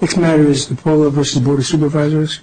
Next matter is Depolo v. Board of Supervisors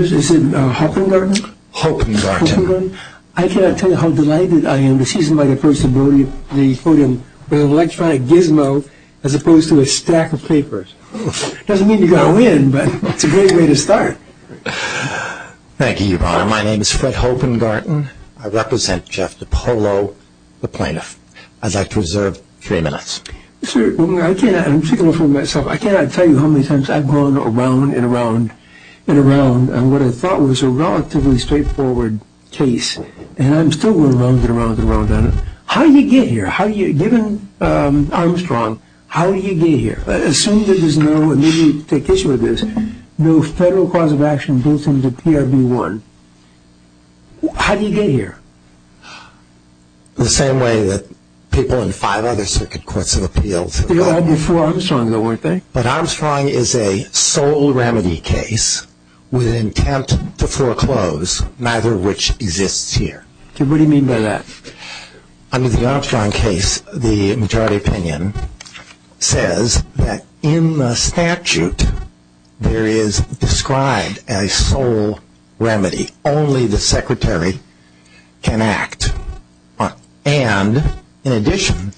Mr. Hopengarten I cannot tell you how delighted I am to see somebody's first voting with an electronic gizmo as opposed to a stack of papers. Doesn't mean you're going to win, but it's a great way to start. Thank you, Your Honor. My name is Fred Hopengarten. I represent Jeff Depolo, the plaintiff. I'd like to reserve three minutes. Sir, in particular for myself, I cannot tell you how many times I've gone around and around and around on what I thought was a relatively straightforward case, and I'm still going around and around and around on it. How do you get here? Given Armstrong, how do you get here? Assuming there is no, and maybe you can take issue with this, no federal cause of action built into PRB 1, how do you get here? The same way that people in five other circuit courts have appealed. They all did for Armstrong though, weren't they? But Armstrong is a sole remedy case with an intent to foreclose, neither of which exists here. What do you mean by that? Under the Armstrong case, the majority opinion says that in the statute there is described as a sole remedy. Only the secretary can act. And in addition,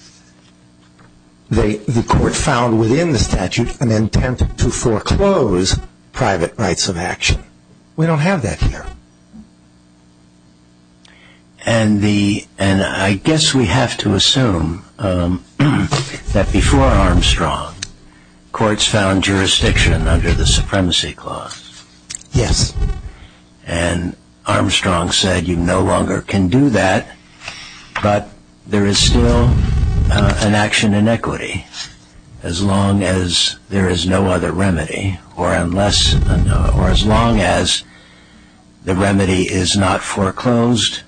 the court found within the statute an intent to foreclose private rights of action. We don't have that here. And I guess we have to assume that before Armstrong, courts found jurisdiction under the Supremacy Clause. Yes. And Armstrong said you no longer can do that, but there is still an action in equity. As long as there is no other remedy, or unless, or as long as the remedy is not foreclosed,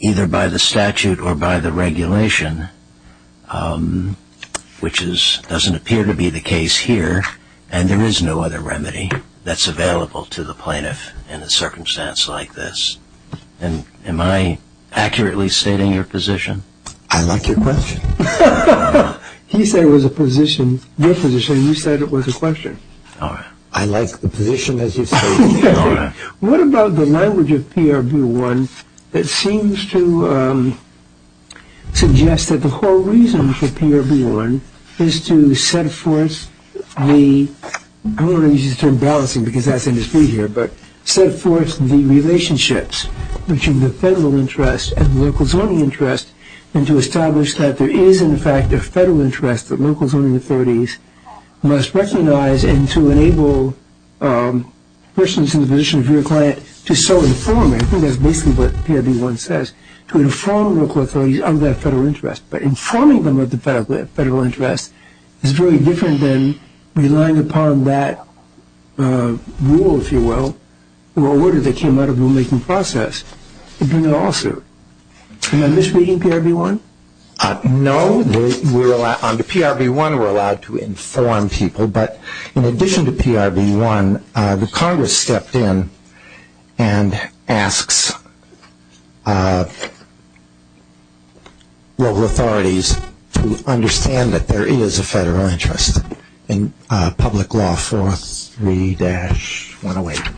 either by the statute or by the regulation, which doesn't appear to be the case here, and there is no other remedy that's available to the plaintiff in a circumstance like this. Am I accurately stating your position? I like your question. He said it was a position, your position. You said it was a question. I like the position as you say it. What about the language of PRB 1 that seems to suggest that the whole reason for PRB 1 is to set forth the, I don't want to use the term balancing because that's in dispute here, but set forth the relationships between the federal interest and the local zoning interest and to establish that there is in fact a federal interest that local zoning authorities must recognize and to enable persons in the position of your client to so inform, I think that's basically what PRB 1 says, to inform local authorities of that federal interest. But informing them of the federal interest is very different than relying upon that rule, if you will, or order that came out of the rulemaking process to do that also. Am I misreading PRB 1? No. On the PRB 1 we're allowed to inform people, but in addition to PRB 1, Ricardo stepped in and asks local authorities to understand that there is a federal interest in public law 43-108.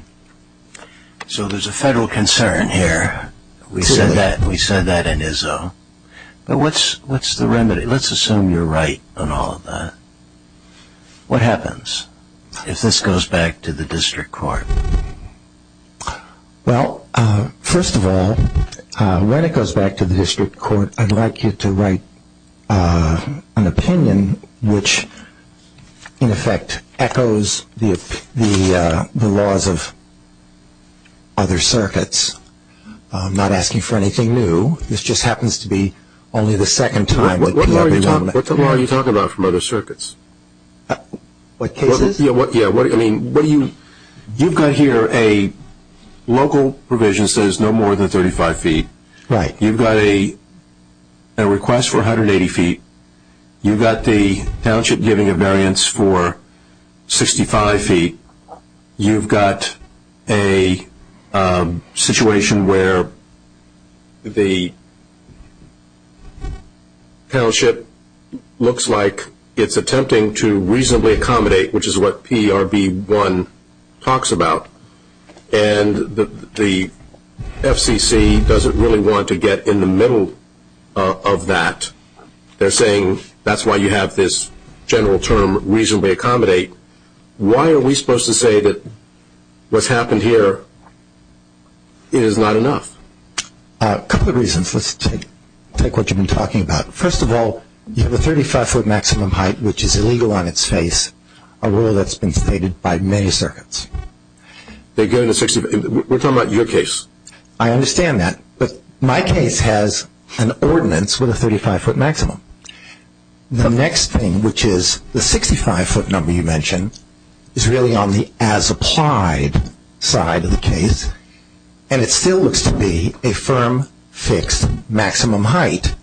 So there's a federal concern here. We said that in Izzo. But what's the remedy? Let's assume you're right on all of that. What happens? If this goes back to the district court. Well, first of all, when it goes back to the district court, I'd like you to write an opinion which in effect echoes the laws of other circuits. I'm not asking for anything new. This just happens to be only the second time. What law are you talking about from other circuits? What cases? You've got here a local provision that says no more than 35 feet. Right. You've got a request for 180 feet. You've got the township giving a variance for 65 feet. You've got a situation where the township looks like it's attempting to reasonably accommodate, which is what PRB 1 talks about, and the FCC doesn't really want to get in the middle of that. They're saying that's why you have this general term, reasonably accommodate. Why are we supposed to say that what's happened here is not enough? A couple of reasons. Let's take what you've been talking about. First of all, you have a 35-foot maximum height, which is illegal on its face, a rule that's been stated by many circuits. We're talking about your case. I understand that, but my case has an ordinance with a 35-foot maximum. The next thing, which is the 65-foot number you mentioned, is really on the as-applied side of the case, and it still looks to be a firm, fixed maximum height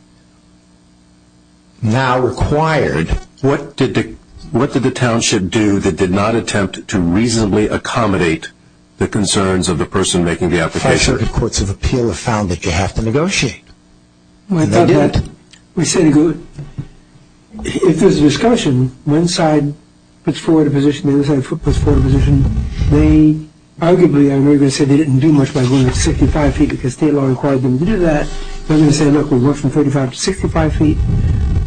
now required. What did the township do that did not attempt to reasonably accommodate the concerns of the person making the application? Five circuit courts of appeal have found that you have to negotiate. We did. We said, if there's a discussion, one side puts forward a position, the other side puts forward a position. Arguably, I know you're going to say they didn't do much by going to 65 feet because state law required them to do that. They're going to say, look, we'll go from 35 to 65 feet.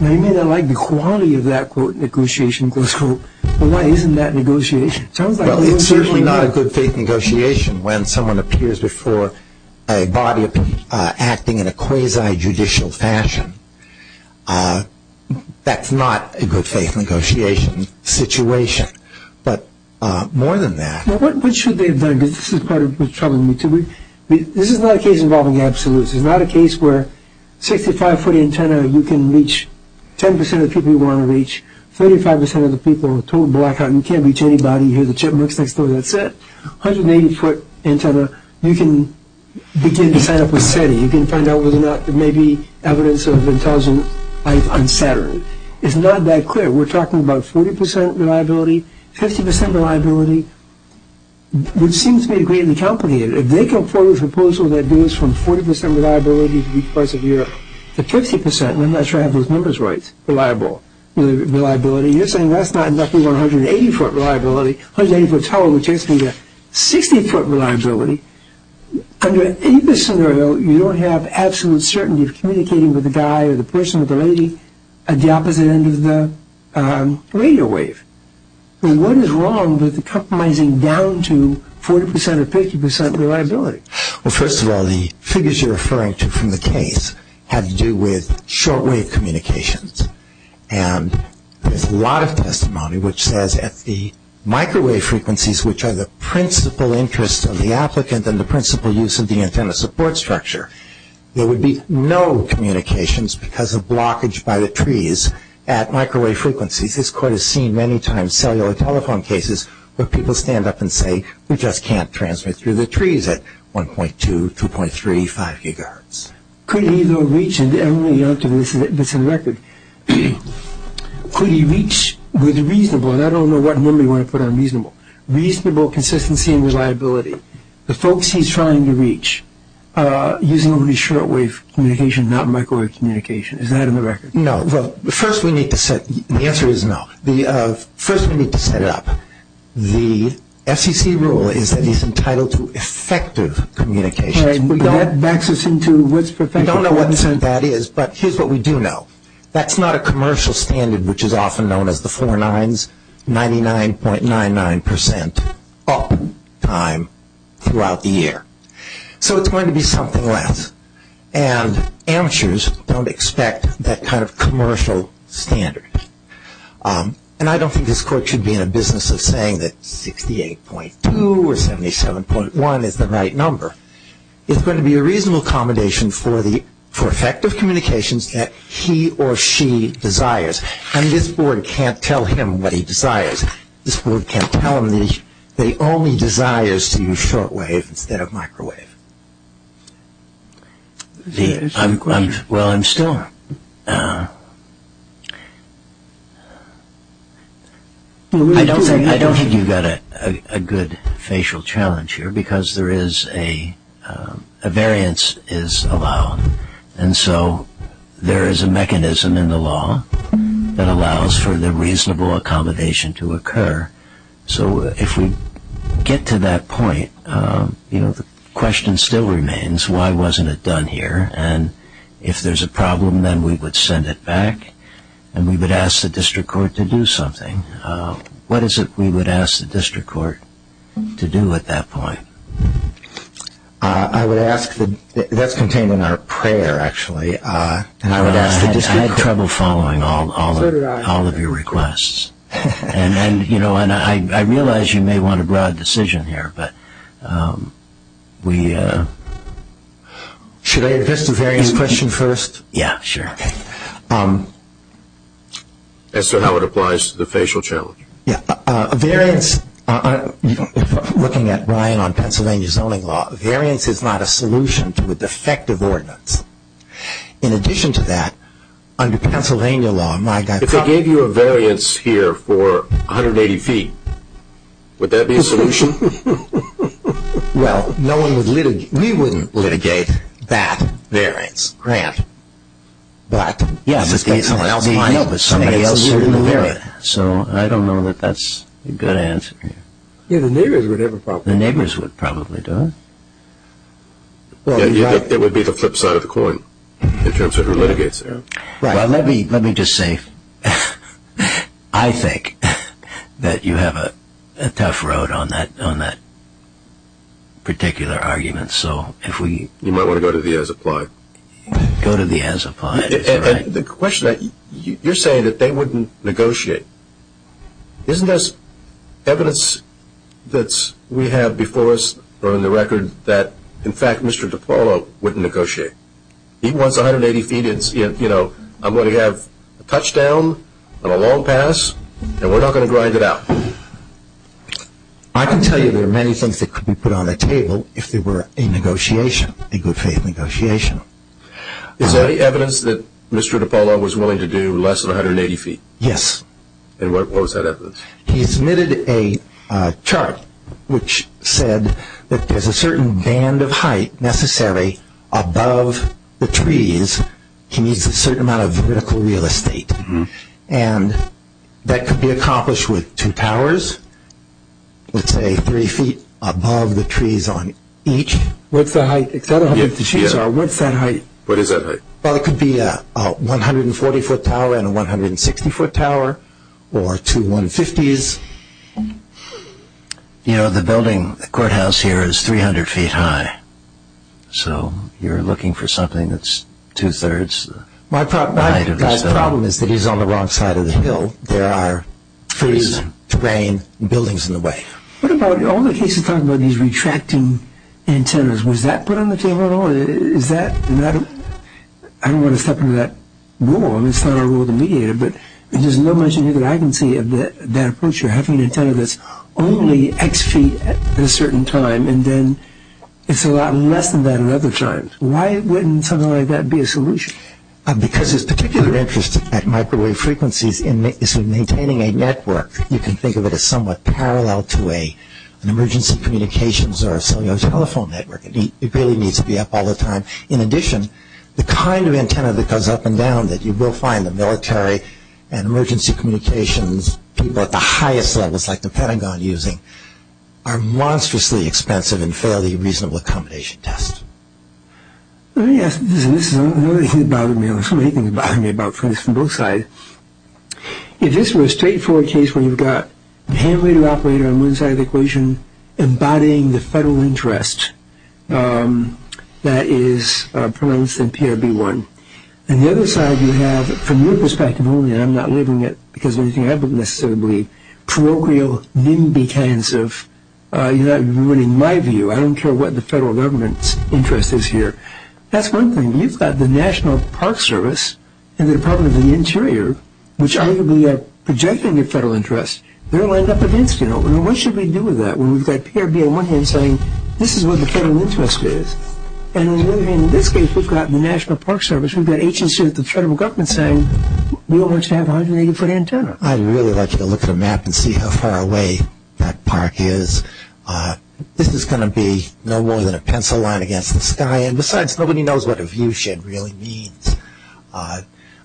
Now, you may not like the quality of that, quote, negotiation, close quote, but why isn't that negotiation? Well, it's certainly not a good faith negotiation when someone appears before a body acting in a quasi-judicial fashion. That's not a good faith negotiation situation. But more than that. What should they have done? This is part of what's troubling me, too. This is not a case involving absolutes. It's not a case where 65-foot antenna, you can reach 10% of the people you want to reach, 35% of the people, total blackout, you can't reach anybody, you hear the chipmunks next door, that's it. 180-foot antenna, you can begin to sign up with SETI. You can find out whether or not there may be evidence of intelligent life on Saturn. It's not that clear. We're talking about 40% reliability, 50% reliability, which seems to me greatly complicated. If they come forward with a proposal that moves from 40% reliability to reach parts of Europe to 50%, I'm not sure I have those numbers right, reliable reliability, you're saying that's not enough for 180-foot reliability. 180-foot is 60-foot reliability. Under any of this scenario, you don't have absolute certainty of communicating with the guy or the person or the lady at the opposite end of the radio wave. What is wrong with compromising down to 40% or 50% reliability? Well, first of all, the figures you're referring to from the case have to do with short-wave communications. And there's a lot of testimony which says at the microwave frequencies, which are the principal interest of the applicant and the principal use of the antenna support structure, there would be no communications because of blockage by the trees at microwave frequencies. This court has seen many times cellular telephone cases where people stand up and say, we just can't transmit through the trees at 1.2, 2.3, 5 gigahertz. Could he, though, reach with reasonable, and I don't know what number you want to put on reasonable, reasonable consistency and reliability, the folks he's trying to reach using only short-wave communication, not microwave communication. Is that in the record? No. Well, first we need to set, the answer is no. First we need to set it up. The FCC rule is that he's entitled to effective communications. And that backs us into what's perfect? We don't know what that is, but here's what we do know. That's not a commercial standard, which is often known as the four nines, 99.99% up time throughout the year. So it's going to be something less. And amateurs don't expect that kind of commercial standard. And I don't think this court should be in the business of saying that 68.2 or 77.1 is the right number. It's going to be a reasonable accommodation for effective communications that he or she desires. And this board can't tell him what he desires. This board can't tell him that he only desires to use short-wave instead of microwave. Well, I'm still, I don't think you've got a good facial challenge here because there is a, a variance is allowed. And so there is a mechanism in the law that allows for the reasonable accommodation to occur. So if we get to that point, you know, the question still remains, why wasn't it done here? And if there's a problem, then we would send it back. And we would ask the district court to do something. What is it we would ask the district court to do at that point? I would ask the, that's contained in our prayer, actually. I would ask the district court. I had trouble following all of your requests. And then, you know, and I realize you may want a broad decision here, but we... Should I address the variance question first? Yeah, sure. As to how it applies to the facial challenge. Yeah, a variance, looking at Brian on Pennsylvania zoning law, variance is not a solution to a defective ordinance. In addition to that, under Pennsylvania law, my guy... If I gave you a variance here for 180 feet, would that be a solution? Well, no one would litigate... We wouldn't litigate that variance, Grant. But... Yeah... I suspect someone else might help with somebody else's variance. So I don't know that that's a good answer here. Yeah, the neighbors would have a problem. The neighbors would probably do it. Yeah, it would be the flip side of the coin in terms of who litigates it. Well, let me just say I think that you have a tough road on that particular argument. So if we... You might want to go to the as-applied. Go to the as-applied. And the question, you're saying that they wouldn't negotiate. Isn't this evidence that we have before us on the record that, in fact, Mr. DiPaolo wouldn't negotiate? He wants 180 feet. I'm going to have a touchdown on a long pass, and we're not going to grind it out. I can tell you there are many things that could be put on the table if there were a negotiation, a good-faith negotiation. Is there any evidence that Mr. DiPaolo was willing to do less than 180 feet? Yes. And what was that evidence? He submitted a chart which said that there's a certain band of height necessary above the trees. He needs a certain amount of vertical real estate. And that could be accomplished with two towers, let's say, three feet above the trees on each. What's the height? What's that height? What is that height? Well, it could be a 140-foot tower and a 160-foot tower or two 150s. You know, the building, the courthouse here is 300 feet high. So you're looking for something that's two-thirds the height of the building. My problem is that he's on the wrong side of the hill. There are trees, terrain, buildings in the way. What about all the cases talking about these retracting antennas? Was that put on the table at all? I don't want to step into that rule. It's not our role to mediate it, but there's no mention here that I can see of that approach. You're having an antenna that's only X feet at a certain time, and then it's a lot less than that at other times. Why wouldn't something like that be a solution? Because his particular interest at microwave frequencies is in maintaining a network. You can think of it as somewhat parallel to an emergency communications or a cellular telephone network. It really needs to be up all the time. In addition, the kind of antenna that goes up and down that you will find the military and emergency communications people at the highest levels like the Pentagon using are monstrously expensive and fail the reasonable accommodation test. Let me ask you this. This is another thing that bothered me. This is one of the things that bothered me about this from both sides. If this were a straightforward case where you've got a hand-radio operator on one side of the equation embodying the federal interest that is pronounced in PRB1, and the other side you have, from your perspective only, and I'm not living it because of anything I believe, parochial NIMBY kinds of, in my view, I don't care what the federal government's interest is here. That's one thing. You've got the National Park Service and the Department of the Interior, which arguably are projecting a federal interest. They're lined up against you. What should we do with that? We've got PRB on one hand saying this is what the federal interest is, and in this case we've got the National Park Service, we've got agencies of the federal government saying we all want you to have a 180-foot antenna. I'd really like you to look at a map and see how far away that park is. This is going to be no more than a pencil line against the sky, and besides, nobody knows what a viewshed really means.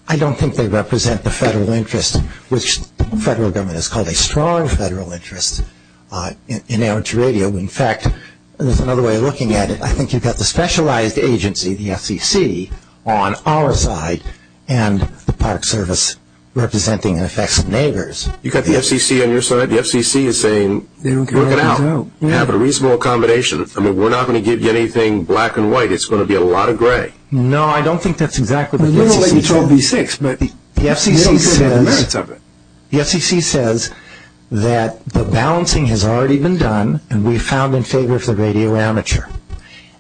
I don't think they represent the federal interest, which the federal government has called a strong federal interest. In fact, there's another way of looking at it. I think you've got the specialized agency, the FCC, on our side, and the Park Service representing the effects of neighbors. You've got the FCC on your side? The FCC is saying, look it out. You have a reasonable accommodation. We're not going to give you anything black and white. It's going to be a lot of gray. No, I don't think that's exactly what the FCC says. The FCC says that the balancing has already been done, and we've found in favor of the radio amateur,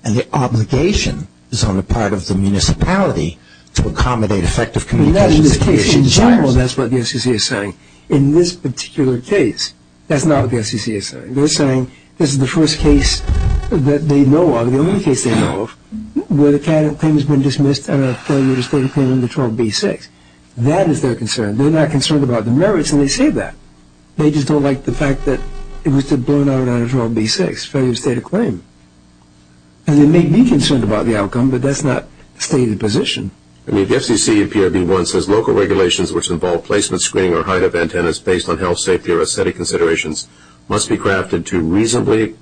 and the obligation is on the part of the municipality to accommodate effective communication. In general, that's what the FCC is saying. In this particular case, that's not what the FCC is saying. They're saying this is the first case that they know of, the only case they know of, where the patent claim has been dismissed and a failure to state a claim under 12B-6. That is their concern. They're not concerned about the merits, and they say that. They just don't like the fact that it was to burn out under 12B-6, failure to state a claim. They may be concerned about the outcome, but that's not the stated position. The FCC in PRB-1 says local regulations which involve placement, screening, or height of antennas based on health, safety, or aesthetic considerations must be crafted to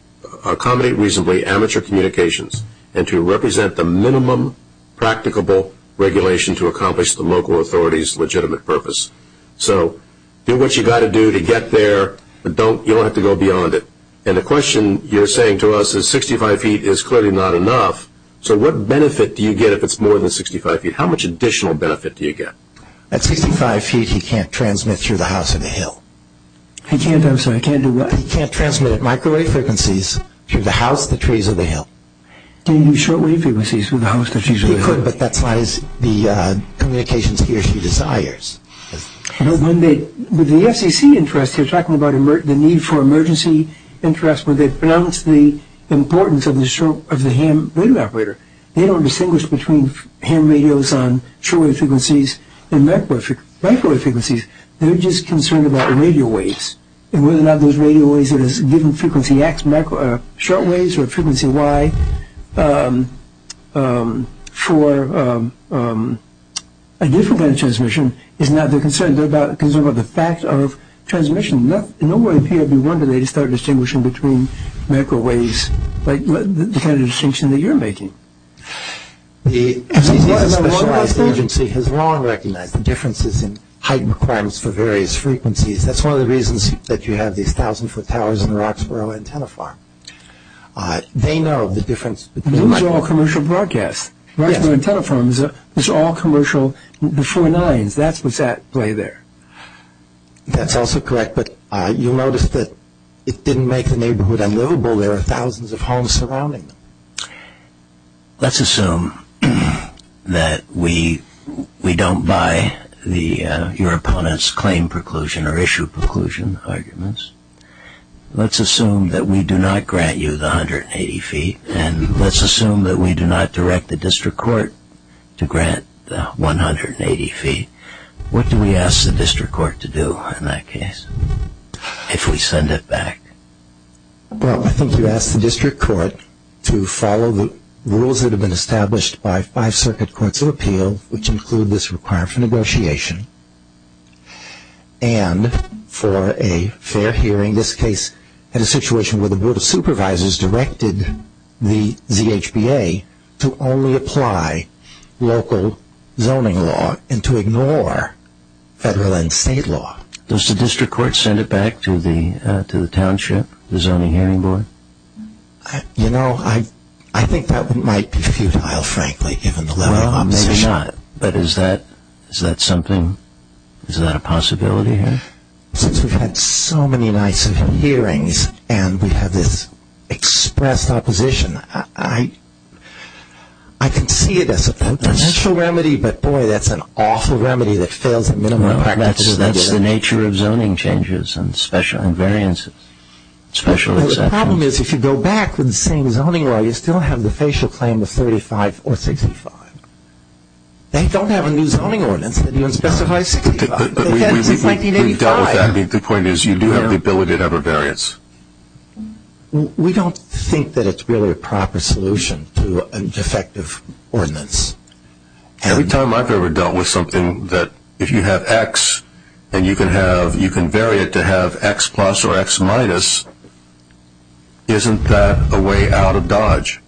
accommodate reasonably amateur communications and to represent the minimum practicable regulation to accomplish the local authority's legitimate purpose. So do what you've got to do to get there, but you don't have to go beyond it. And the question you're saying to us is 65 feet is clearly not enough, so what benefit do you get if it's more than 65 feet? How much additional benefit do you get? At 65 feet, he can't transmit through the house and the hill. I'm sorry, he can't do what? He can't transmit at microwave frequencies through the house, the trees, or the hill. Can he do shortwave frequencies through the house, the trees, or the hill? He could, but that's not the communications he or she desires. With the FCC interest, they're talking about the need for emergency interest where they've pronounced the importance of the ham radio operator. They don't distinguish between ham radios on shortwave frequencies and microwave frequencies. They're just concerned about radio waves and whether or not those radio waves that has given frequency X shortwaves or frequency Y for a different kind of transmission is not their concern. They're concerned about the fact of transmission. In no way would it be a wonder they just start distinguishing between microwaves, like the kind of distinction that you're making. The FCC's specialized agency has long recognized the differences in height requirements for various frequencies. That's one of the reasons that you have these thousand-foot towers in the Roxborough Antenna Farm. They know the difference. Those are all commercial broadcasts. Roxborough Antenna Farm is all commercial before nines. That's what's at play there. That's also correct, but you'll notice that it didn't make the neighborhood unlivable. There are thousands of homes surrounding them. Let's assume that we don't buy your opponent's claim preclusion or issue preclusion arguments. Let's assume that we do not grant you the 180 feet, and let's assume that we do not direct the district court to grant the 180 feet. What do we ask the district court to do in that case if we send it back? I think you ask the district court to follow the rules that have been established by five circuit courts of appeal, which include this requirement for negotiation. And for a fair hearing, this case had a situation where the Board of Supervisors directed the ZHBA to only apply local zoning law and to ignore federal and state law. Does the district court send it back to the township, the Zoning Hearing Board? You know, I think that might be futile, frankly, given the level of opposition. Well, maybe not, but is that something, is that a possibility here? Since we've had so many nights of hearings and we have this expressed opposition, I can see it as a potential remedy, but boy, that's an awful remedy that fails at minimum. That's the nature of zoning changes and variances. The problem is if you go back with the same zoning law, you still have the facial claim of 35 or 65. They don't have a new zoning ordinance that even specifies 65. We dealt with that. The point is you do have the ability to have a variance. We don't think that it's really a proper solution to a defective ordinance. Every time I've ever dealt with something that if you have X and you can vary it to have X plus or X minus, isn't that a way out of Dodge?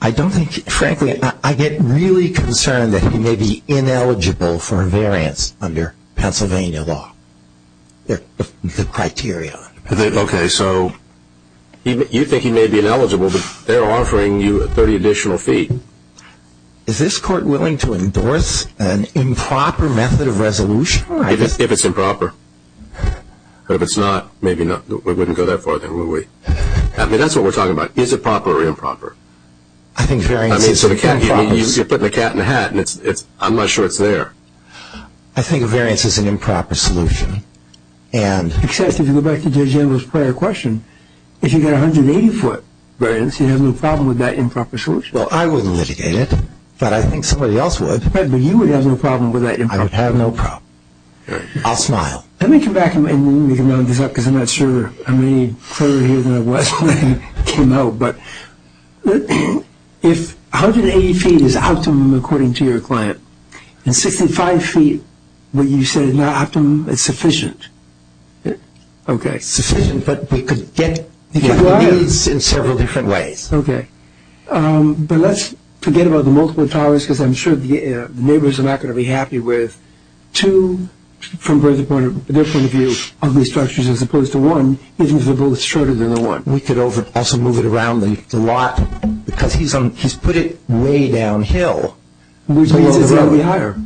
I don't think, frankly, I get really concerned that he may be ineligible for a variance under Pennsylvania law, the criteria. Okay, so you think he may be ineligible, but they're offering you a 30 additional feet. Is this court willing to endorse an improper method of resolution? If it's improper. If it's not, maybe not. We wouldn't go that far then, would we? I mean, that's what we're talking about. Is it proper or improper? I think variance is an improper solution. I mean, you put the cat in the hat and I'm not sure it's there. I think variance is an improper solution. Except if you go back to Judge Engel's prior question, if you've got a 180-foot variance, you'd have no problem with that improper solution. Well, I wouldn't litigate it, but I think somebody else would. Right, but you would have no problem with that improper solution. I would have no problem. I'll smile. Let me come back and we can round this up because I'm not sure I'm any clearer here than I was when I came out. But if 180 feet is optimum according to your client, and 65 feet, what you said is not optimum, it's sufficient. Okay. It's sufficient, but we could get these in several different ways. Okay. But let's forget about the multiple towers because I'm sure the neighbors are not going to be happy with two, from their point of view, ugly structures as opposed to one, even if they're both shorter than the one. We could also move it around the lot because he's put it way downhill. Which means it's going to be higher.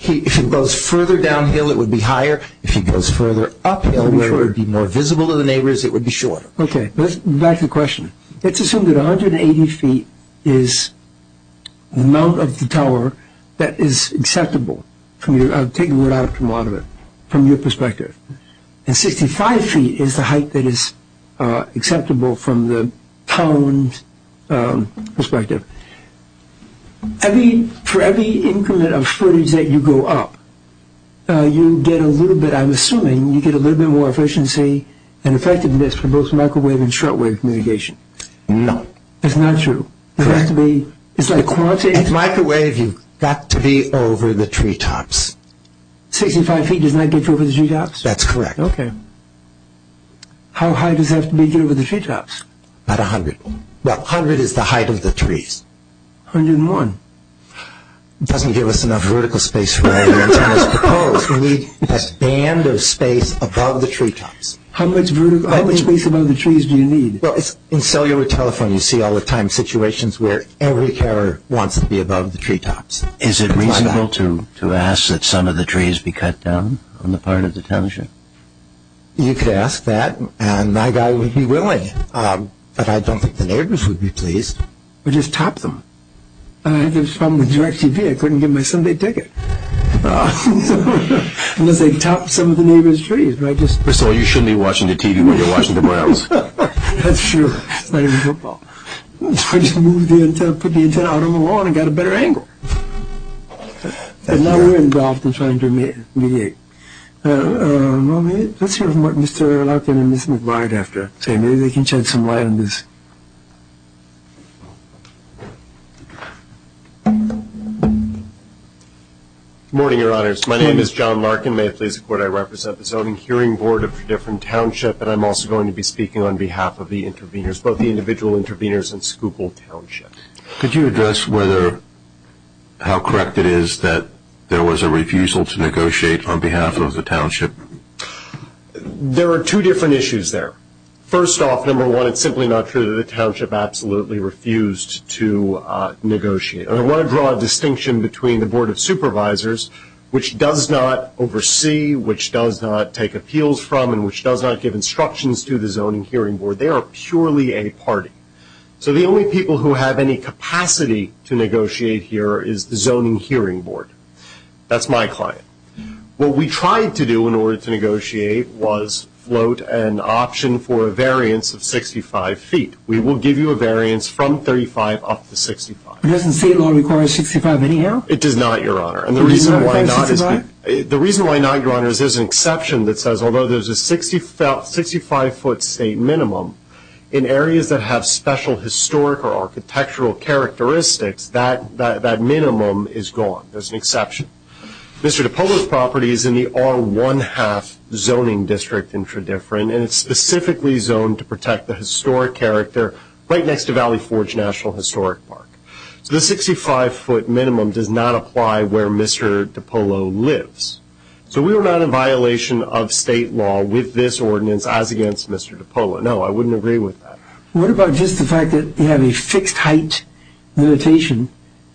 If it goes further downhill, it would be higher. If it goes further uphill, where it would be more visible to the neighbors, it would be shorter. Okay. Back to the question. Let's assume that 180 feet is the amount of the tower that is acceptable. I'll take a word out of it from your perspective. And 65 feet is the height that is acceptable from the pound perspective. For every increment of footage that you go up, you get a little bit, I'm assuming, you get a little bit more efficiency and effectiveness for both microwave and shortwave communication. No. That's not true. Correct. It's like quantity. If it's microwave, you've got to be over the treetops. 65 feet does not get you over the treetops? That's correct. Okay. How high does it have to be to get over the treetops? About 100. Well, 100 is the height of the trees. 101. It doesn't give us enough vertical space for all the antennas proposed. We need that band of space above the treetops. How much vertical space above the trees do you need? Well, in cellular telephone, you see all the time situations where every carer wants to be above the treetops. Is it reasonable to ask that some of the trees be cut down on the part of the township? You could ask that, and my guy would be willing. But I don't think the neighbors would be pleased. Or just top them. There was a problem with DirecTV. I couldn't get my Sunday ticket. Unless they topped some of the neighbors' trees. So you shouldn't be watching the TV when you're watching the Browns. That's true. It's not even football. So I just moved the antenna, put the antenna out on the lawn and got a better angle. And now we're involved in trying to mediate. Let's hear from Mr. Larkin and Ms. McGuire after. Maybe they can shed some light on this. Good morning, Your Honors. My name is John Larkin. May it please the Court I represent the zoning hearing board of the different township, but I'm also going to be speaking on behalf of the intervenors, both the individual intervenors and Schuylkill Township. Could you address how correct it is that there was a refusal to negotiate on behalf of the township? There are two different issues there. First off, number one, it's simply not true that the township absolutely refused to negotiate. I want to draw a distinction between the Board of Supervisors, which does not oversee, which does not take appeals from, and which does not give instructions to the zoning hearing board. They are purely a party. So the only people who have any capacity to negotiate here is the zoning hearing board. That's my client. What we tried to do in order to negotiate was float an option for a variance of 65 feet. We will give you a variance from 35 up to 65. Doesn't state law require 65 anyhow? It does not, Your Honor. The reason why not, Your Honor, is there's an exception that says although there's a 65-foot state minimum, in areas that have special historic or architectural characteristics, that minimum is gone. There's an exception. Mr. DiPolo's property is in the R1-half zoning district in Tredyffrin, and it's specifically zoned to protect the historic character right next to Valley Forge National Historic Park. So the 65-foot minimum does not apply where Mr. DiPolo lives. So we are not in violation of state law with this ordinance as against Mr. DiPolo. No, I wouldn't agree with that. What about just the fact that you have a fixed-height limitation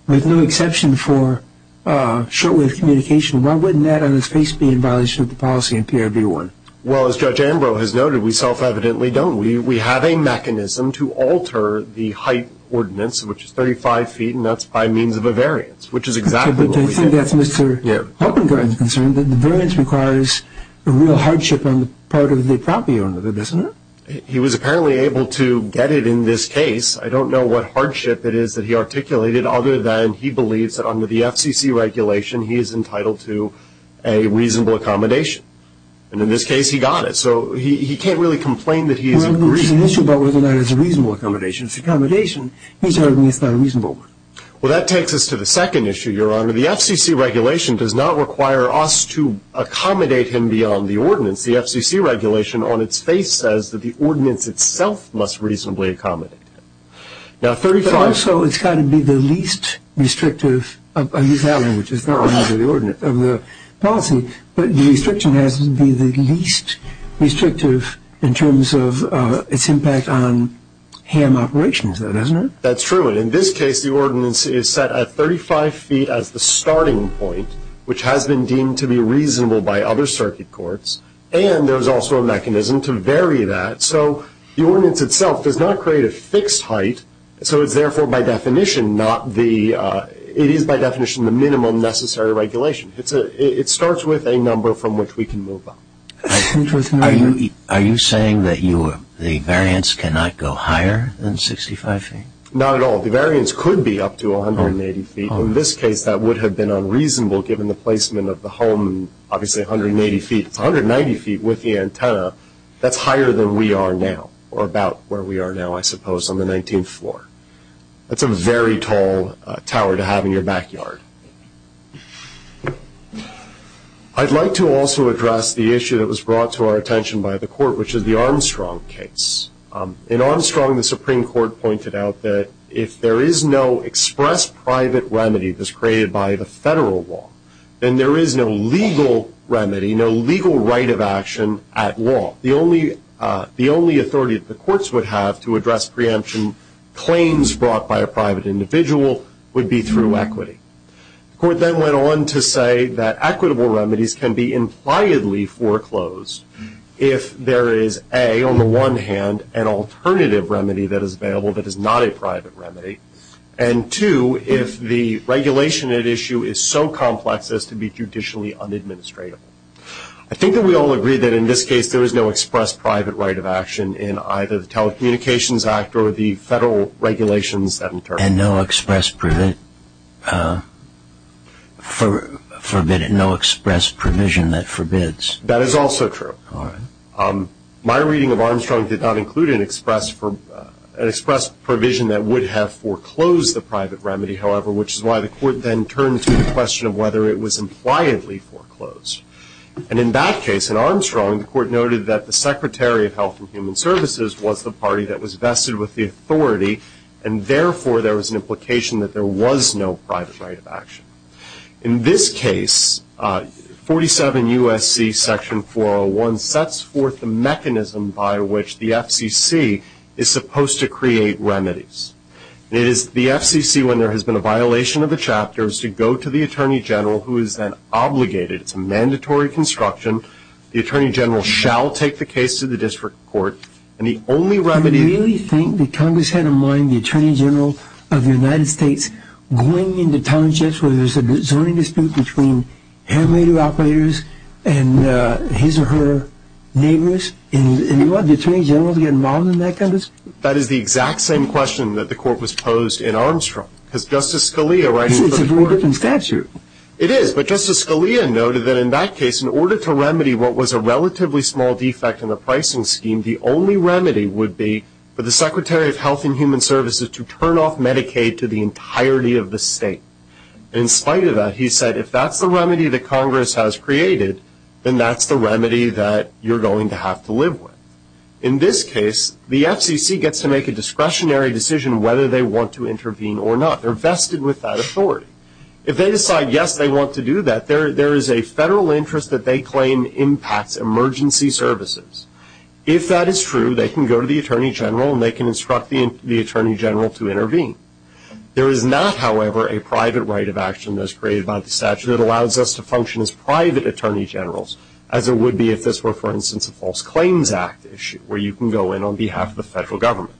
with no exception for short-wave communication? Why wouldn't that on its face be in violation of the policy in PRB 1? Well, as Judge Ambrose has noted, we self-evidently don't. We have a mechanism to alter the height ordinance, which is 35 feet, and that's by means of a variance, which is exactly what we did. Okay, but I think that's Mr. Hoppengart's concern, that the variance requires a real hardship on the part of the property owner, doesn't it? He was apparently able to get it in this case. I don't know what hardship it is that he articulated, other than he believes that under the FCC regulation he is entitled to a reasonable accommodation. And in this case, he got it. So he can't really complain that he is in a reasonable accommodation. It's an issue about whether or not it's a reasonable accommodation. If it's accommodation, he's arguing it's not a reasonable one. Well, that takes us to the second issue, Your Honor. The FCC regulation does not require us to accommodate him beyond the ordinance. The FCC regulation on its face says that the ordinance itself must reasonably accommodate him. Also, it's got to be the least restrictive of the policy, but the restriction has to be the least restrictive in terms of its impact on ham operations, doesn't it? That's true. In this case, the ordinance is set at 35 feet as the starting point, which has been deemed to be reasonable by other circuit courts, and there's also a mechanism to vary that. So the ordinance itself does not create a fixed height, so it's therefore by definition the minimum necessary regulation. It starts with a number from which we can move on. Are you saying that the variance cannot go higher than 65 feet? Not at all. The variance could be up to 180 feet. In this case, that would have been unreasonable given the placement of the home, obviously 180 feet. It's 190 feet with the antenna. That's higher than we are now, or about where we are now, I suppose, on the 19th floor. That's a very tall tower to have in your backyard. I'd like to also address the issue that was brought to our attention by the court, which is the Armstrong case. In Armstrong, the Supreme Court pointed out that if there is no express private remedy that's created by the federal law, then there is no legal remedy, no legal right of action at law. The only authority that the courts would have to address preemption claims brought by a private individual would be through equity. The court then went on to say that equitable remedies can be impliedly foreclosed if there is, A, on the one hand, an alternative remedy that is available that is not a private remedy, and, 2, if the regulation at issue is so complex as to be judicially unadministratable. I think that we all agree that in this case there is no express private right of action in either the Telecommunications Act or the federal regulations that interpret it. And no express provision that forbids? That is also true. All right. My reading of Armstrong did not include an express provision that would have foreclosed the private remedy, however, which is why the court then turned to the question of whether it was impliedly foreclosed. And in that case, in Armstrong, the court noted that the Secretary of Health and Human Services was the party that was vested with the authority, and therefore there was an implication that there was no private right of action. In this case, 47 U.S.C. Section 401 sets forth the mechanism by which the FCC is supposed to create remedies. It is the FCC, when there has been a violation of a chapter, is to go to the Attorney General, who is then obligated. It's a mandatory construction. The Attorney General shall take the case to the district court. And the only remedy? Do you really think that Congress had in mind the Attorney General of the United States going into townships where there's a zoning dispute between hand-radio operators and his or her neighbors, and you want the Attorney General to get involved in that kind of dispute? That is the exact same question that the court was posed in Armstrong. Because Justice Scalia writes for the court. It's a very different statute. It is, but Justice Scalia noted that in that case, in order to remedy what was a relatively small defect in the pricing scheme, the only remedy would be for the Secretary of Health and Human Services to turn off Medicaid to the entirety of the state. In spite of that, he said, if that's the remedy that Congress has created, then that's the remedy that you're going to have to live with. In this case, the FCC gets to make a discretionary decision whether they want to intervene or not. They're vested with that authority. If they decide, yes, they want to do that, there is a federal interest that they claim impacts emergency services. If that is true, they can go to the Attorney General and they can instruct the Attorney General to intervene. There is not, however, a private right of action that is created by the statute that allows us to function as private Attorney Generals, as it would be if this were, for instance, a False Claims Act issue, where you can go in on behalf of the federal government.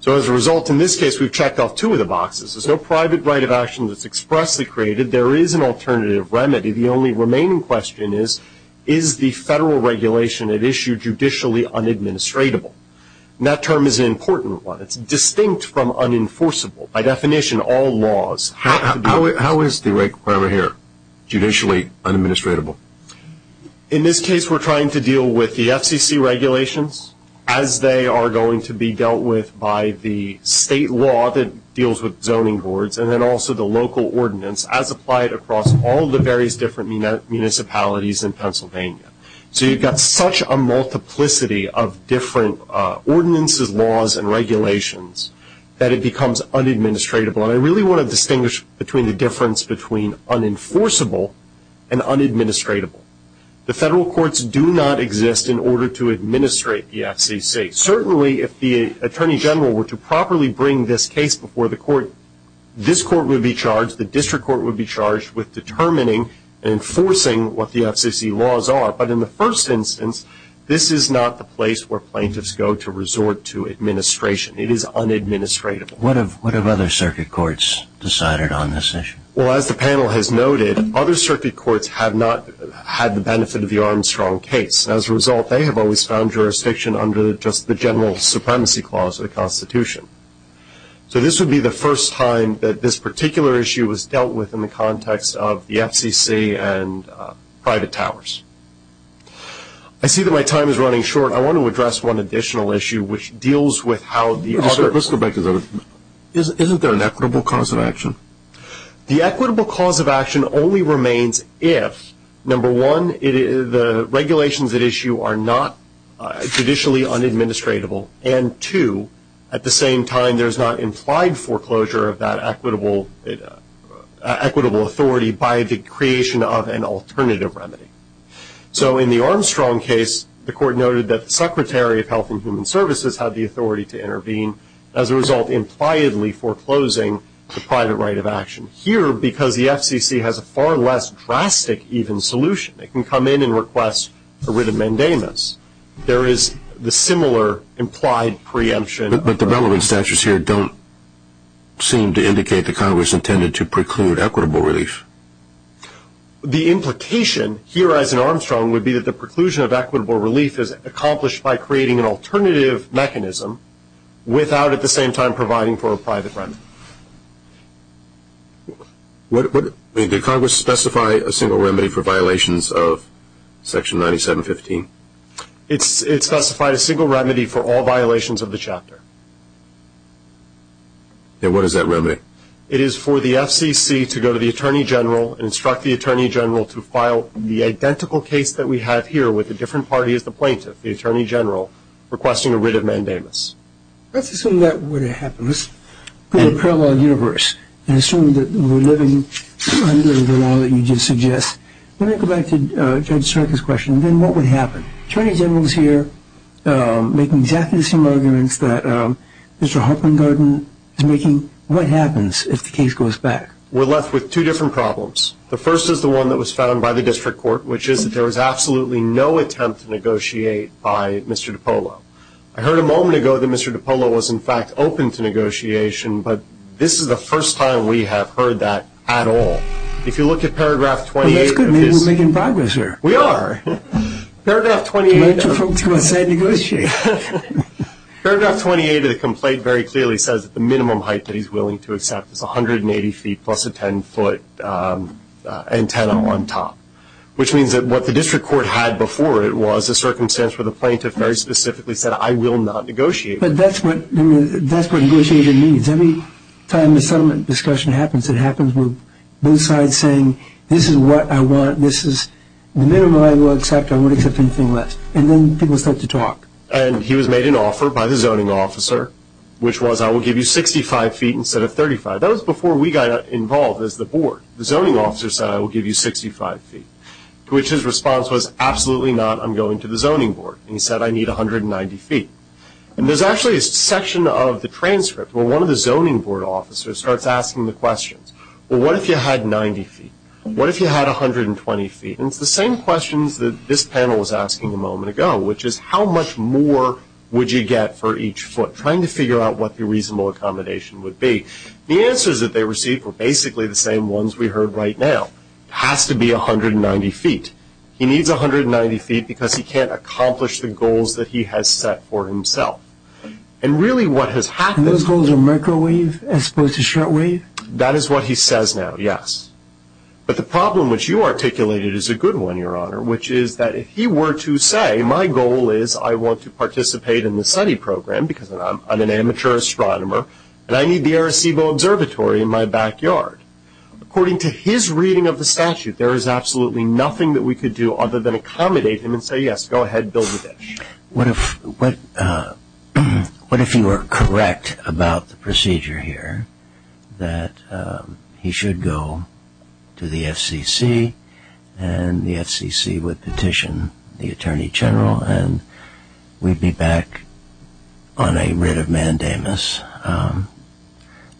So as a result, in this case, we've checked off two of the boxes. There's no private right of action that's expressly created. There is an alternative remedy. The only remaining question is, is the federal regulation at issue judicially unadministratable? And that term is an important one. It's distinct from unenforceable. By definition, all laws have to be— How is the requirement here judicially unadministratable? In this case, we're trying to deal with the FCC regulations as they are going to be dealt with by the state law that deals with zoning boards and then also the local ordinance as applied across all the various different municipalities in Pennsylvania. So you've got such a multiplicity of different ordinances, laws, and regulations that it becomes unadministratable. And I really want to distinguish between the difference between unenforceable and unadministratable. The federal courts do not exist in order to administrate the FCC. Certainly, if the attorney general were to properly bring this case before the court, this court would be charged, the district court would be charged, with determining and enforcing what the FCC laws are. But in the first instance, this is not the place where plaintiffs go to resort to administration. It is unadministratable. What have other circuit courts decided on this issue? Well, as the panel has noted, other circuit courts have not had the benefit of the Armstrong case. As a result, they have always found jurisdiction under just the general supremacy clause of the Constitution. So this would be the first time that this particular issue was dealt with in the context of the FCC and private towers. I see that my time is running short. I want to address one additional issue, which deals with how the other. Let's go back to that. Isn't there an equitable cause of action? The equitable cause of action only remains if, number one, the regulations at issue are not judicially unadministratable, and two, at the same time there is not implied foreclosure of that equitable authority by the creation of an alternative remedy. So in the Armstrong case, the court noted that the Secretary of Health had the authority to intervene, as a result, impliedly foreclosing the private right of action. Here, because the FCC has a far less drastic even solution, it can come in and request a writ of mandamus. There is the similar implied preemption. But the relevant statutes here don't seem to indicate that Congress intended to preclude equitable relief. The implication here, as in Armstrong, would be that the preclusion of equitable relief is accomplished by creating an alternative mechanism without at the same time providing for a private remedy. Did Congress specify a single remedy for violations of Section 9715? It specified a single remedy for all violations of the chapter. And what is that remedy? It is for the FCC to go to the Attorney General and instruct the Attorney General to file the identical case that we have here with a different party as the plaintiff, the Attorney General, requesting a writ of mandamus. Let's assume that would happen. Let's put it in a parallel universe and assume that we're living under the law that you just suggested. Let me go back to Judge Strzok's question. Then what would happen? The Attorney General is here making exactly the same arguments that Mr. Harpengarden is making. What happens if the case goes back? We're left with two different problems. The first is the one that was found by the district court, which is that there was absolutely no attempt to negotiate by Mr. DiPolo. I heard a moment ago that Mr. DiPolo was, in fact, open to negotiation, but this is the first time we have heard that at all. If you look at Paragraph 28 of his ‑‑ That's good. We're making progress here. We are. Paragraph 28 of the complaint very clearly says that the minimum height that he's willing to accept is 180 feet plus a 10‑foot antenna on top, which means that what the district court had before it was a circumstance where the plaintiff very specifically said, I will not negotiate. But that's what negotiating means. Every time a settlement discussion happens, it happens with both sides saying, this is what I want, this is the minimum I will accept, I won't accept anything less, and then people start to talk. And he was made an offer by the zoning officer, which was, I will give you 65 feet instead of 35. That was before we got involved as the board. The zoning officer said, I will give you 65 feet, to which his response was, absolutely not, I'm going to the zoning board. And he said, I need 190 feet. And there's actually a section of the transcript where one of the zoning board officers starts asking the questions. Well, what if you had 90 feet? What if you had 120 feet? And it's the same questions that this panel was asking a moment ago, which is how much more would you get for each foot, trying to figure out what the reasonable accommodation would be. The answers that they received were basically the same ones we heard right now. It has to be 190 feet. He needs 190 feet because he can't accomplish the goals that he has set for himself. And really what has happened is... And those goals are microwave as opposed to shortwave? That is what he says now, yes. But the problem which you articulated is a good one, Your Honor, which is that if he were to say, my goal is I want to participate in the SETI program, because I'm an amateur astronomer, and I need the Arecibo Observatory in my backyard, according to his reading of the statute, there is absolutely nothing that we could do other than accommodate him and say, yes, go ahead, build the dish. What if he were correct about the procedure here, that he should go to the FCC, and the FCC would petition the Attorney General, and we'd be back on a writ of mandamus.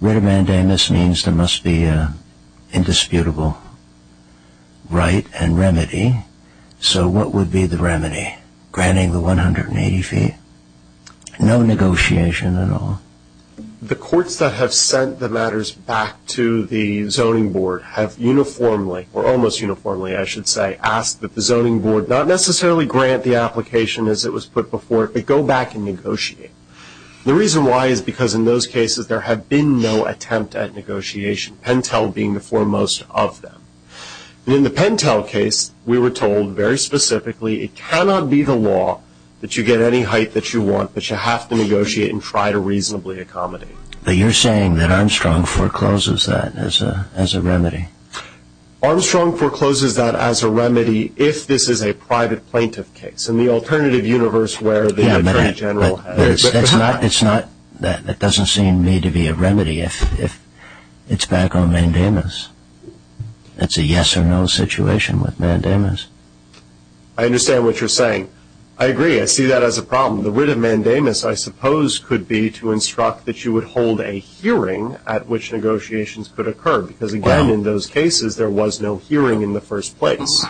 Writ of mandamus means there must be an indisputable right and remedy. So what would be the remedy? Granting the 180 feet. No negotiation at all. The courts that have sent the matters back to the zoning board have uniformly, or almost uniformly, I should say, asked that the zoning board not necessarily grant the application as it was put before it, but go back and negotiate. The reason why is because in those cases there had been no attempt at negotiation, Pentel being the foremost of them. In the Pentel case, we were told very specifically, it cannot be the law that you get any height that you want, but you have to negotiate and try to reasonably accommodate. But you're saying that Armstrong forecloses that as a remedy. Armstrong forecloses that as a remedy if this is a private plaintiff case, in the alternative universe where the Attorney General has. That doesn't seem to me to be a remedy if it's back on mandamus. That's a yes or no situation with mandamus. I understand what you're saying. I agree. I see that as a problem. The writ of mandamus, I suppose, could be to instruct that you would hold a hearing at which negotiations could occur, because, again, in those cases there was no hearing in the first place.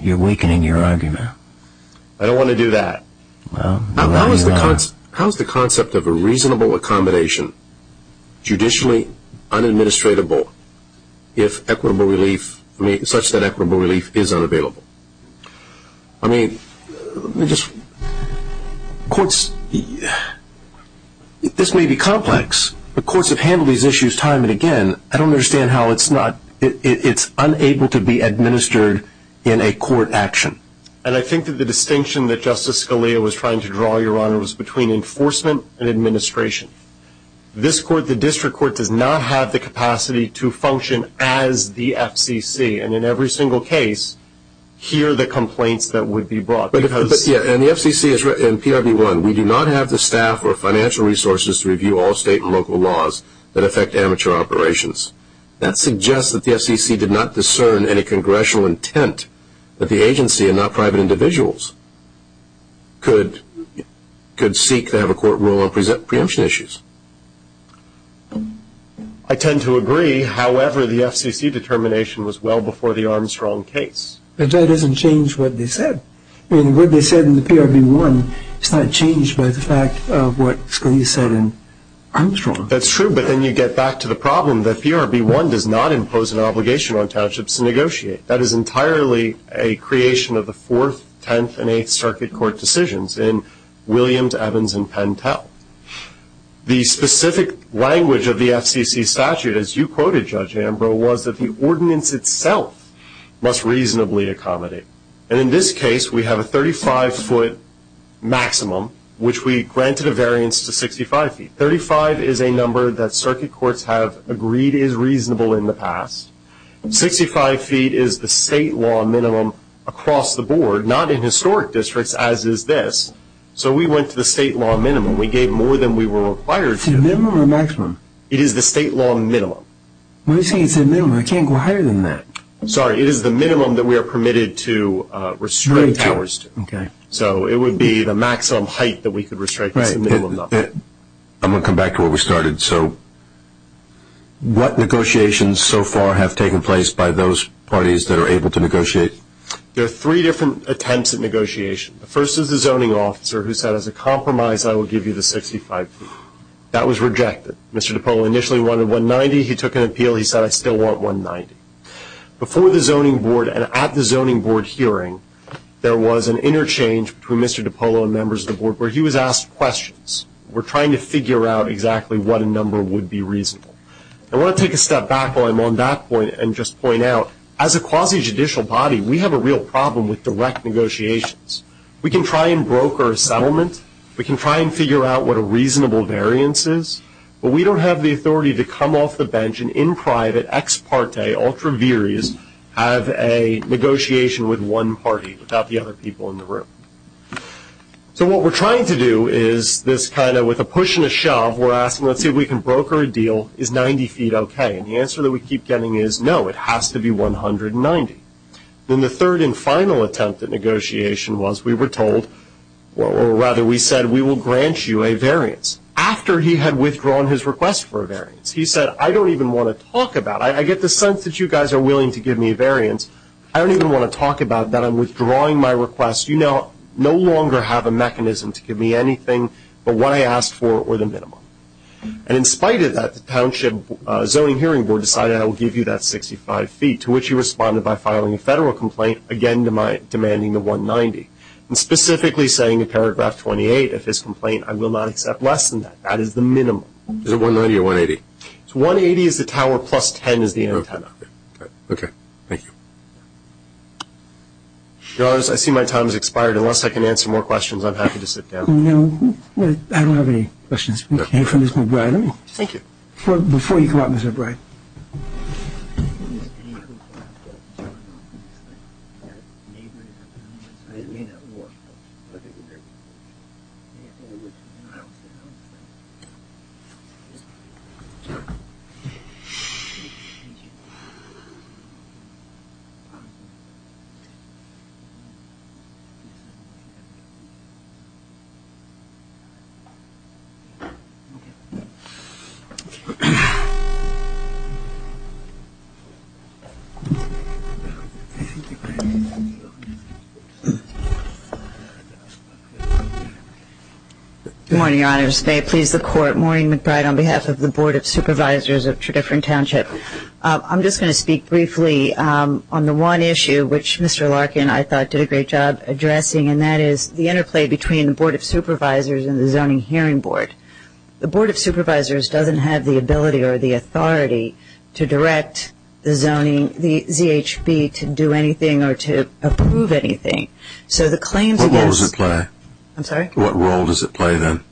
You're weakening your argument. I don't want to do that. How is the concept of a reasonable accommodation judicially unadministratable if equitable relief, such that equitable relief is unavailable? I mean, courts, this may be complex, but courts have handled these issues time and again. I don't understand how it's not. It's unable to be administered in a court action. And I think that the distinction that Justice Scalia was trying to draw, Your Honor, was between enforcement and administration. This court, the district court, does not have the capacity to function as the FCC, and in every single case hear the complaints that would be brought. But, yeah, and the FCC and PRB1, we do not have the staff or financial resources to review all state and local laws that affect amateur operations. That suggests that the FCC did not discern any congressional intent that the agency and not private individuals could seek to have a court rule on preemption issues. I tend to agree. However, the FCC determination was well before the Armstrong case. But that doesn't change what they said. I mean, what they said in the PRB1, it's not changed by the fact of what Scalia said in Armstrong. That's true. But then you get back to the problem that PRB1 does not impose an obligation on townships to negotiate. That is entirely a creation of the Fourth, Tenth, and Eighth Circuit Court decisions in Williams, Evans, and Pentel. The specific language of the FCC statute, as you quoted, Judge Ambrose, was that the ordinance itself must reasonably accommodate. And in this case, we have a 35-foot maximum, which we granted a variance to 65 feet. Thirty-five is a number that circuit courts have agreed is reasonable in the past. Sixty-five feet is the state law minimum across the board, not in historic districts, as is this. So we went to the state law minimum. We gave more than we were required to. Is it a minimum or a maximum? It is the state law minimum. What do you mean it's a minimum? I can't go higher than that. I'm sorry. It is the minimum that we are permitted to restrict ours to. Okay. So it would be the maximum height that we could restrict is the minimum. I'm going to come back to where we started. So what negotiations so far have taken place by those parties that are able to negotiate? There are three different attempts at negotiation. The first is the zoning officer who said, as a compromise, I will give you the 65 feet. That was rejected. Mr. DiPolo initially wanted 190. He took an appeal. He said, I still want 190. Before the zoning board and at the zoning board hearing, there was an interchange between Mr. DiPolo and members of the board where he was asked questions. We're trying to figure out exactly what a number would be reasonable. I want to take a step back while I'm on that point and just point out, as a quasi-judicial body, we have a real problem with direct negotiations. We can try and broker a settlement. We can try and figure out what a reasonable variance is. But we don't have the authority to come off the bench and in private, ex parte, ultra viris, have a negotiation with one party without the other people in the room. So what we're trying to do is this kind of with a push and a shove, we're asking, let's see if we can broker a deal. Is 90 feet okay? And the answer that we keep getting is no, it has to be 190. Then the third and final attempt at negotiation was we were told, or rather we said, we will grant you a variance. After he had withdrawn his request for a variance, he said, I don't even want to talk about it. I get the sense that you guys are willing to give me a variance. I don't even want to talk about that. I'm withdrawing my request. You no longer have a mechanism to give me anything but what I asked for or the minimum. And in spite of that, the township zoning hearing board decided I will give you that 65 feet, to which he responded by filing a federal complaint, again demanding the 190, and specifically saying in paragraph 28 of his complaint, I will not accept less than that. That is the minimum. Is it 190 or 180? It's 180 is the tower plus 10 is the antenna. Okay. Thank you. Your Honors, I see my time has expired. Unless I can answer more questions, I'm happy to sit down. No. I don't have any questions. Thank you. Before you come up, Mr. Bright. Thank you. Thank you. Thank you. Good morning, Your Honors. May it please the Court, Maureen McBride on behalf of the Board of Supervisors of Tredyffrin Township. I'm just going to speak briefly on the one issue which Mr. Larkin, I thought, did a great job addressing, and that is the interplay between the Board of Supervisors and the zoning hearing board. The Board of Supervisors doesn't have the ability or the authority to direct the zoning, the ZHB, to do anything or to approve anything. What role does it play? I'm sorry? What role does it play then?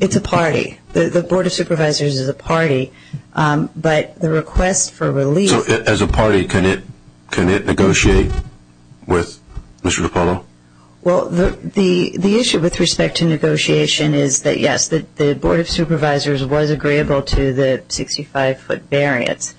It's a party. The Board of Supervisors is a party. But the request for relief. So as a party, can it negotiate with Mr. DiPaolo? Well, the issue with respect to negotiation is that, yes, the Board of Supervisors was agreeable to the 65-foot variance.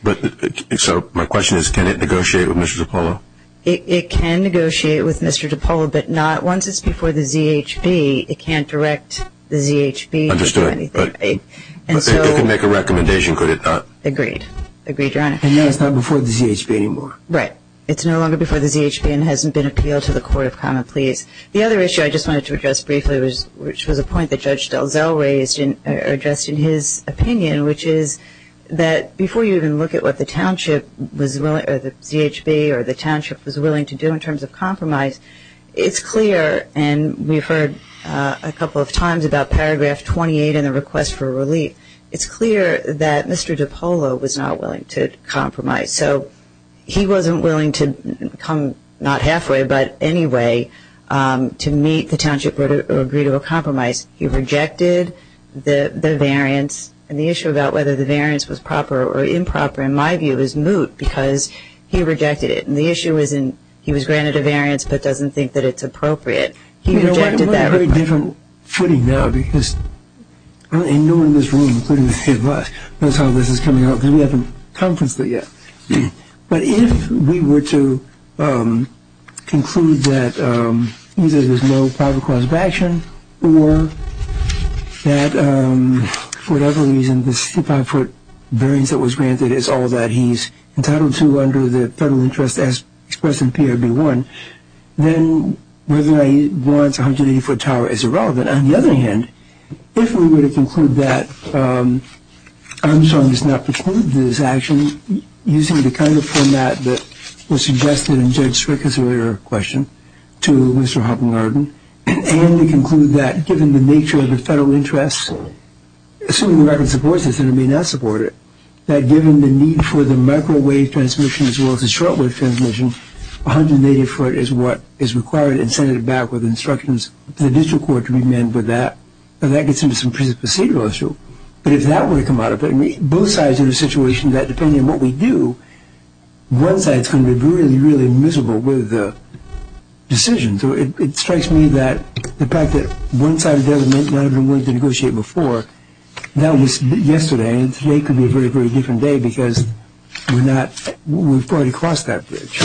So my question is, can it negotiate with Mr. DiPaolo? It can negotiate with Mr. DiPaolo, but not once it's before the ZHB. It can't direct the ZHB to do anything. Understood. But it can make a recommendation, could it not? Agreed. Agreed, Your Honor. And now it's not before the ZHB anymore. Right. It's no longer before the ZHB and hasn't been appealed to the Court of Common Pleas. The other issue I just wanted to address briefly, which was a point that Judge DelZell raised or addressed in his opinion, which is that before you even look at what the ZHB or the township was willing to do in terms of compromise, it's clear, and we've heard a couple of times about Paragraph 28 and the request for relief, it's clear that Mr. DiPaolo was not willing to compromise. So he wasn't willing to come not halfway, but anyway, to meet the township or agree to a compromise. He rejected the variance. And the issue about whether the variance was proper or improper, in my view, is moot because he rejected it. And the issue isn't he was granted a variance but doesn't think that it's appropriate. He rejected that. We're on a very different footing now because no one in this room, including many of us, knows how this is coming along because we haven't conferenced it yet. But if we were to conclude that either there's no probable cause of action or that for whatever reason the 65-foot variance that was granted is all that he's entitled to under the federal interest as expressed in PRB 1, then whether he wants a 180-foot tower is irrelevant. On the other hand, if we were to conclude that Armstrong does not preclude this action using the kind of format that was suggested in Judge Strickland's earlier question to Mr. Hoppengarden, and to conclude that given the nature of the federal interest, assuming the record supports this, that given the need for the microwave transmission as well as the shortwave transmission, 180-foot is what is required and sent it back with instructions for the district court to amend with that, then that gets into some procedural issue. But if that were to come out of it, both sides are in a situation that depending on what we do, one side is going to be really, really miserable with the decision. So it strikes me that the fact that one side or the other may not have been willing to negotiate before, that was yesterday, and today could be a very, very different day because we've already crossed that bridge.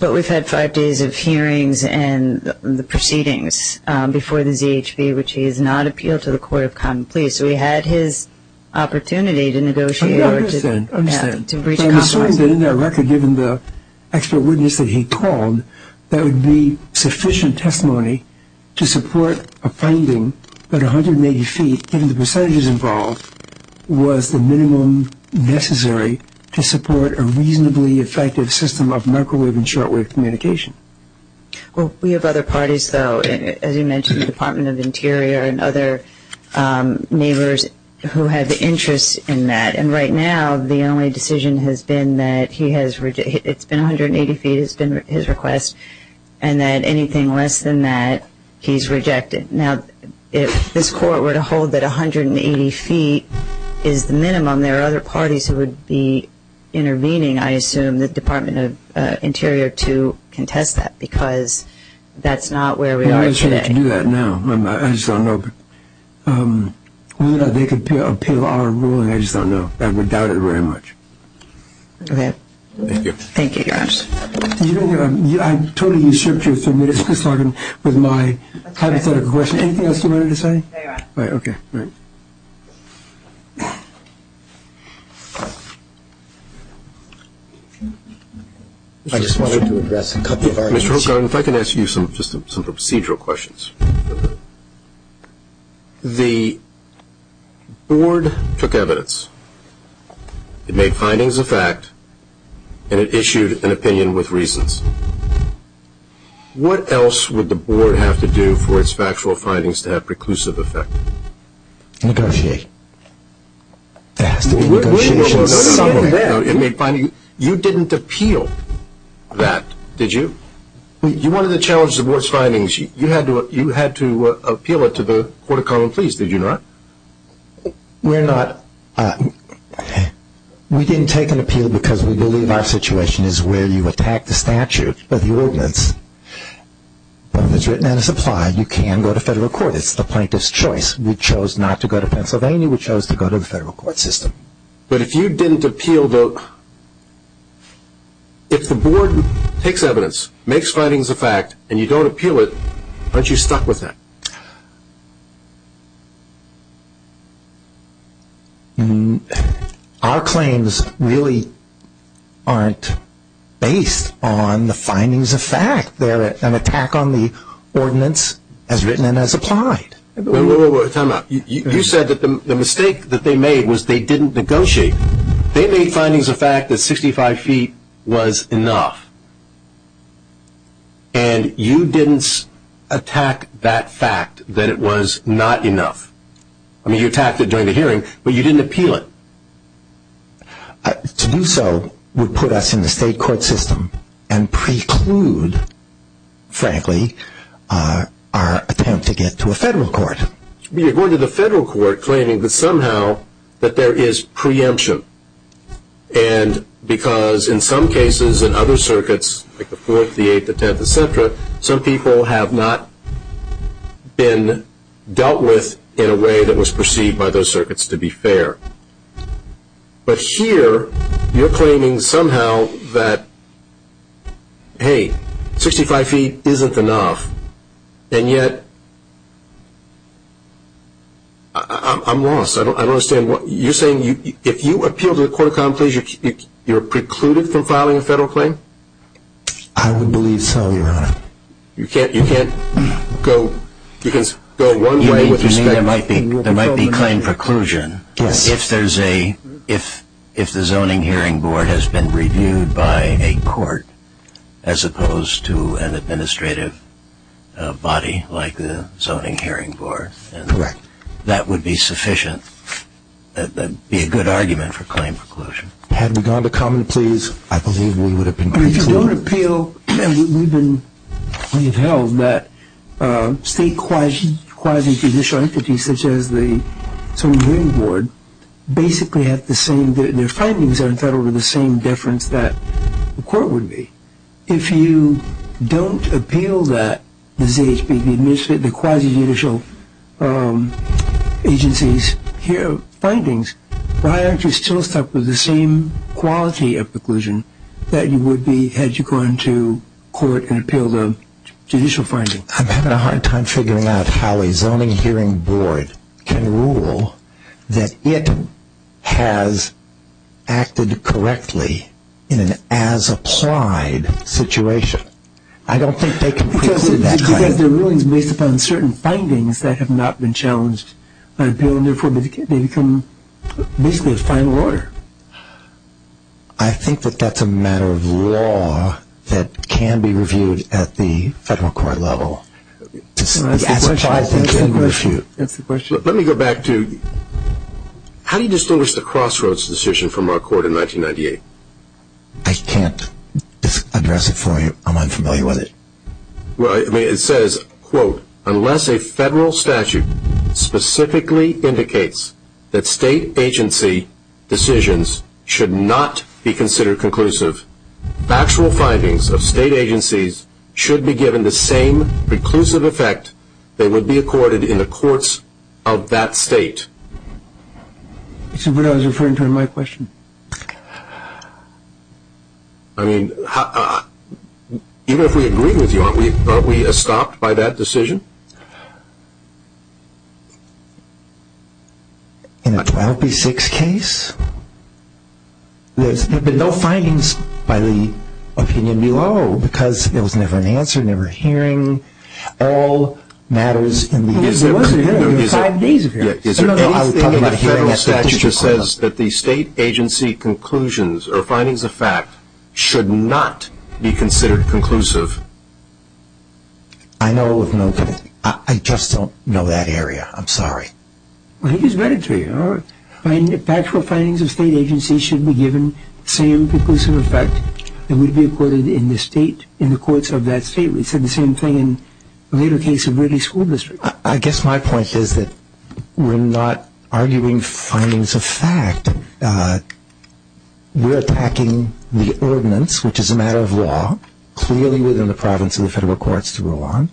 But we've had five days of hearings and the proceedings before the ZHB, which he has not appealed to the Court of Common Pleas. So he had his opportunity to negotiate or to breach compromise. I understand. But in our record, given the expert witness that he called, that would be sufficient testimony to support a finding that 180 feet, given the percentages involved, was the minimum necessary to support a reasonably effective system of microwave and shortwave communication. Well, we have other parties, though. As you mentioned, the Department of Interior and other neighbors who have interests in that. And right now, the only decision has been that it's been 180 feet, it's been his request, and that anything less than that, he's rejected. Now, if this Court were to hold that 180 feet is the minimum, there are other parties who would be intervening, I assume, the Department of Interior to contest that because that's not where we are today. I can't do that now. I just don't know. Whether or not they could appeal our ruling, I just don't know. I would doubt it very much. Okay. Thank you. Thank you, Your Honor. I totally usurped your three-minute discussion with my hypothetical question. Anything else you wanted to say? No, Your Honor. All right. Okay. I just wanted to address a couple of our issues. Mr. Hogan, if I can ask you some procedural questions. The Board took evidence. It made findings of fact, and it issued an opinion with reasons. What else would the Board have to do for its factual findings to have preclusive effect? Negotiate. There has to be negotiations somewhere. You didn't appeal that, did you? You wanted to challenge the Board's findings. You had to appeal it to the Court of Common Pleas, did you not? We're not. We didn't take an appeal because we believe our situation is where you attack the statute, but the ordinance, when it's written and it's applied, you can go to federal court. It's the plaintiff's choice. We chose not to go to Pennsylvania. We chose to go to the federal court system. But if you didn't appeal the – if the Board takes evidence, makes findings of fact, and you don't appeal it, aren't you stuck with that? Our claims really aren't based on the findings of fact. They're an attack on the ordinance as written and as applied. Time out. You said that the mistake that they made was they didn't negotiate. They made findings of fact that 65 feet was enough, and you didn't attack that fact that it was not enough. I mean, you attacked it during the hearing, but you didn't appeal it. To do so would put us in the state court system and preclude, frankly, our attempt to get to a federal court. We are going to the federal court claiming that somehow that there is preemption and because in some cases in other circuits, like the 4th, the 8th, the 10th, et cetera, some people have not been dealt with in a way that was perceived by those circuits, to be fair. But here, you're claiming somehow that, hey, 65 feet isn't enough. And yet, I'm lost. I don't understand. You're saying if you appeal to the court of common pleas, you're precluded from filing a federal claim? I would believe so, Your Honor. You can't go one way with respect to your proposal. You mean there might be claim preclusion if the zoning hearing board has been reviewed by a court as opposed to an administrative body like the zoning hearing board. Correct. That would be sufficient. That would be a good argument for claim preclusion. Had we gone to common pleas, I believe we would have been precluded. If you don't appeal, we've held that state quasi-judicial entities such as the zoning hearing board basically have the same, their findings are entitled to the same deference that the court would be. If you don't appeal that, the ZHB, the quasi-judicial agencies' findings, why aren't you still stuck with the same quality of preclusion that you would be had you gone to court and appealed a judicial finding? I'm having a hard time figuring out how a zoning hearing board can rule that it has acted correctly in an as-applied situation. I don't think they can preclude that claim. Because their ruling is based upon certain findings that have not been challenged by appeal and therefore they become basically a final order. I think that that's a matter of law that can be reviewed at the federal court level. The as-applied thing can be reviewed. That's the question. Let me go back to, how do you distinguish the crossroads decision from our court in 1998? I can't address it for you. I'm unfamiliar with it. It says, quote, unless a federal statute specifically indicates that state agency decisions should not be considered conclusive, factual findings of state agencies should be given the same preclusive effect they would be accorded in the courts of that state. Is that what I was referring to in my question? I mean, even if we agree with you, aren't we stopped by that decision? In a 12B6 case? There have been no findings by the opinion below because there was never an answer, never a hearing. All matters in the... There was a hearing. There were five days of hearings. Is there anything in the federal statute that says that the state agency conclusions or findings of fact should not be considered conclusive? I know of no conclusion. I just don't know that area. I'm sorry. Well, he just read it to you. Factual findings of state agencies should be given the same preclusive effect they would be accorded in the courts of that state. It said the same thing in the later case of Ridley School District. I guess my point is that we're not arguing findings of fact. We're attacking the ordinance, which is a matter of law, clearly within the province of the federal courts to rule on,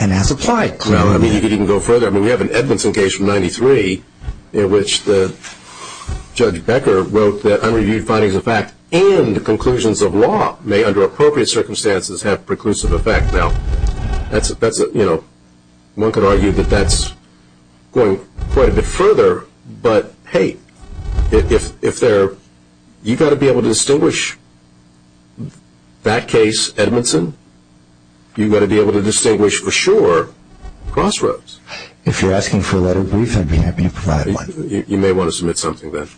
and that's applied clearly. Well, I mean, if you can go further, I mean, we have an Edmondson case from 1993 in which Judge Becker wrote that unreviewed findings of fact and conclusions of law may, under appropriate circumstances, have preclusive effect. Now, one could argue that that's going quite a bit further, but, hey, you've got to be able to distinguish that case, Edmondson. You've got to be able to distinguish, for sure, Crossroads. If you're asking for a letter of relief, I'd be happy to provide one. You may want to submit something then,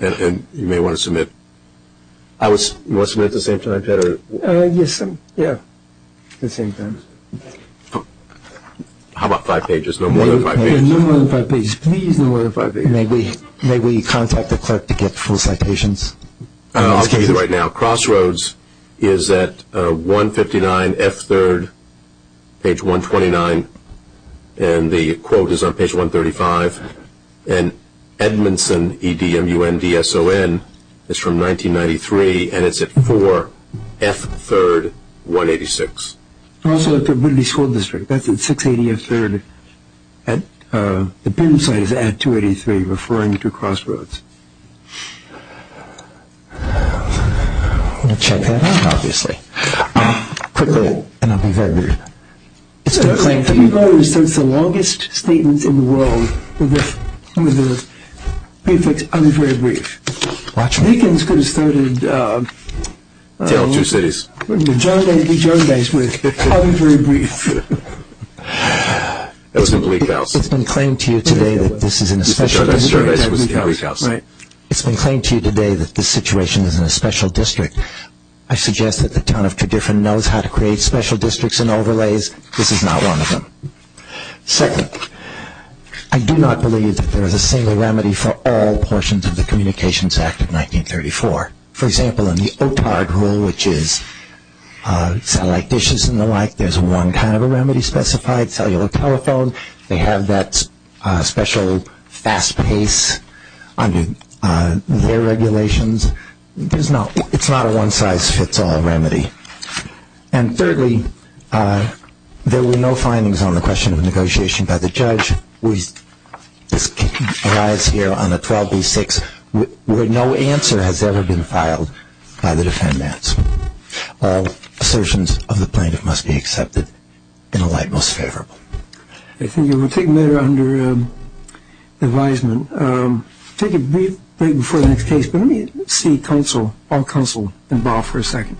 and you may want to submit. You want to submit it at the same time, Ted, or? Yes, yeah, the same time. How about five pages, no more than five pages? No more than five pages. Please, no more than five pages. May we contact the clerk to get full citations? I'll give you the right now. Crossroads is at 159 F3rd, page 129, and the quote is on page 135. And Edmondson, E-D-M-U-N-D-S-O-N, is from 1993, and it's at 4 F3rd, 186. Also at the Liberty School District, that's at 680 F3rd. The BIM site is at 283, referring to Crossroads. We'll check that out, obviously. Quickly, and I'll be very brief. It's been claimed to me that this is the longest statement in the world with the prefix, I'll be very brief. The Deacons could have started the Jardais with, I'll be very brief. That was in Gleek House. It's been claimed to you today that this is in a special district. The Jardais was in Gleek House. It's been claimed to you today that this situation is in a special district. I suggest that the town of Tredyffrin knows how to create special districts and overlays. This is not one of them. Second, I do not believe that there is a single remedy for all portions of the Communications Act of 1934. For example, in the OTARG rule, which is satellite dishes and the like, there's one kind of a remedy specified, cellular telephone. They have that special fast pace under their regulations. It's not a one-size-fits-all remedy. And thirdly, there were no findings on the question of negotiation by the judge. We arise here on a 12B6 where no answer has ever been filed by the defendants. All assertions of the plaintiff must be accepted in a light most favorable. I think you were taken there under advisement. Thank you. We'll take a brief break before the next case. But let me see counsel, all counsel involved for a second.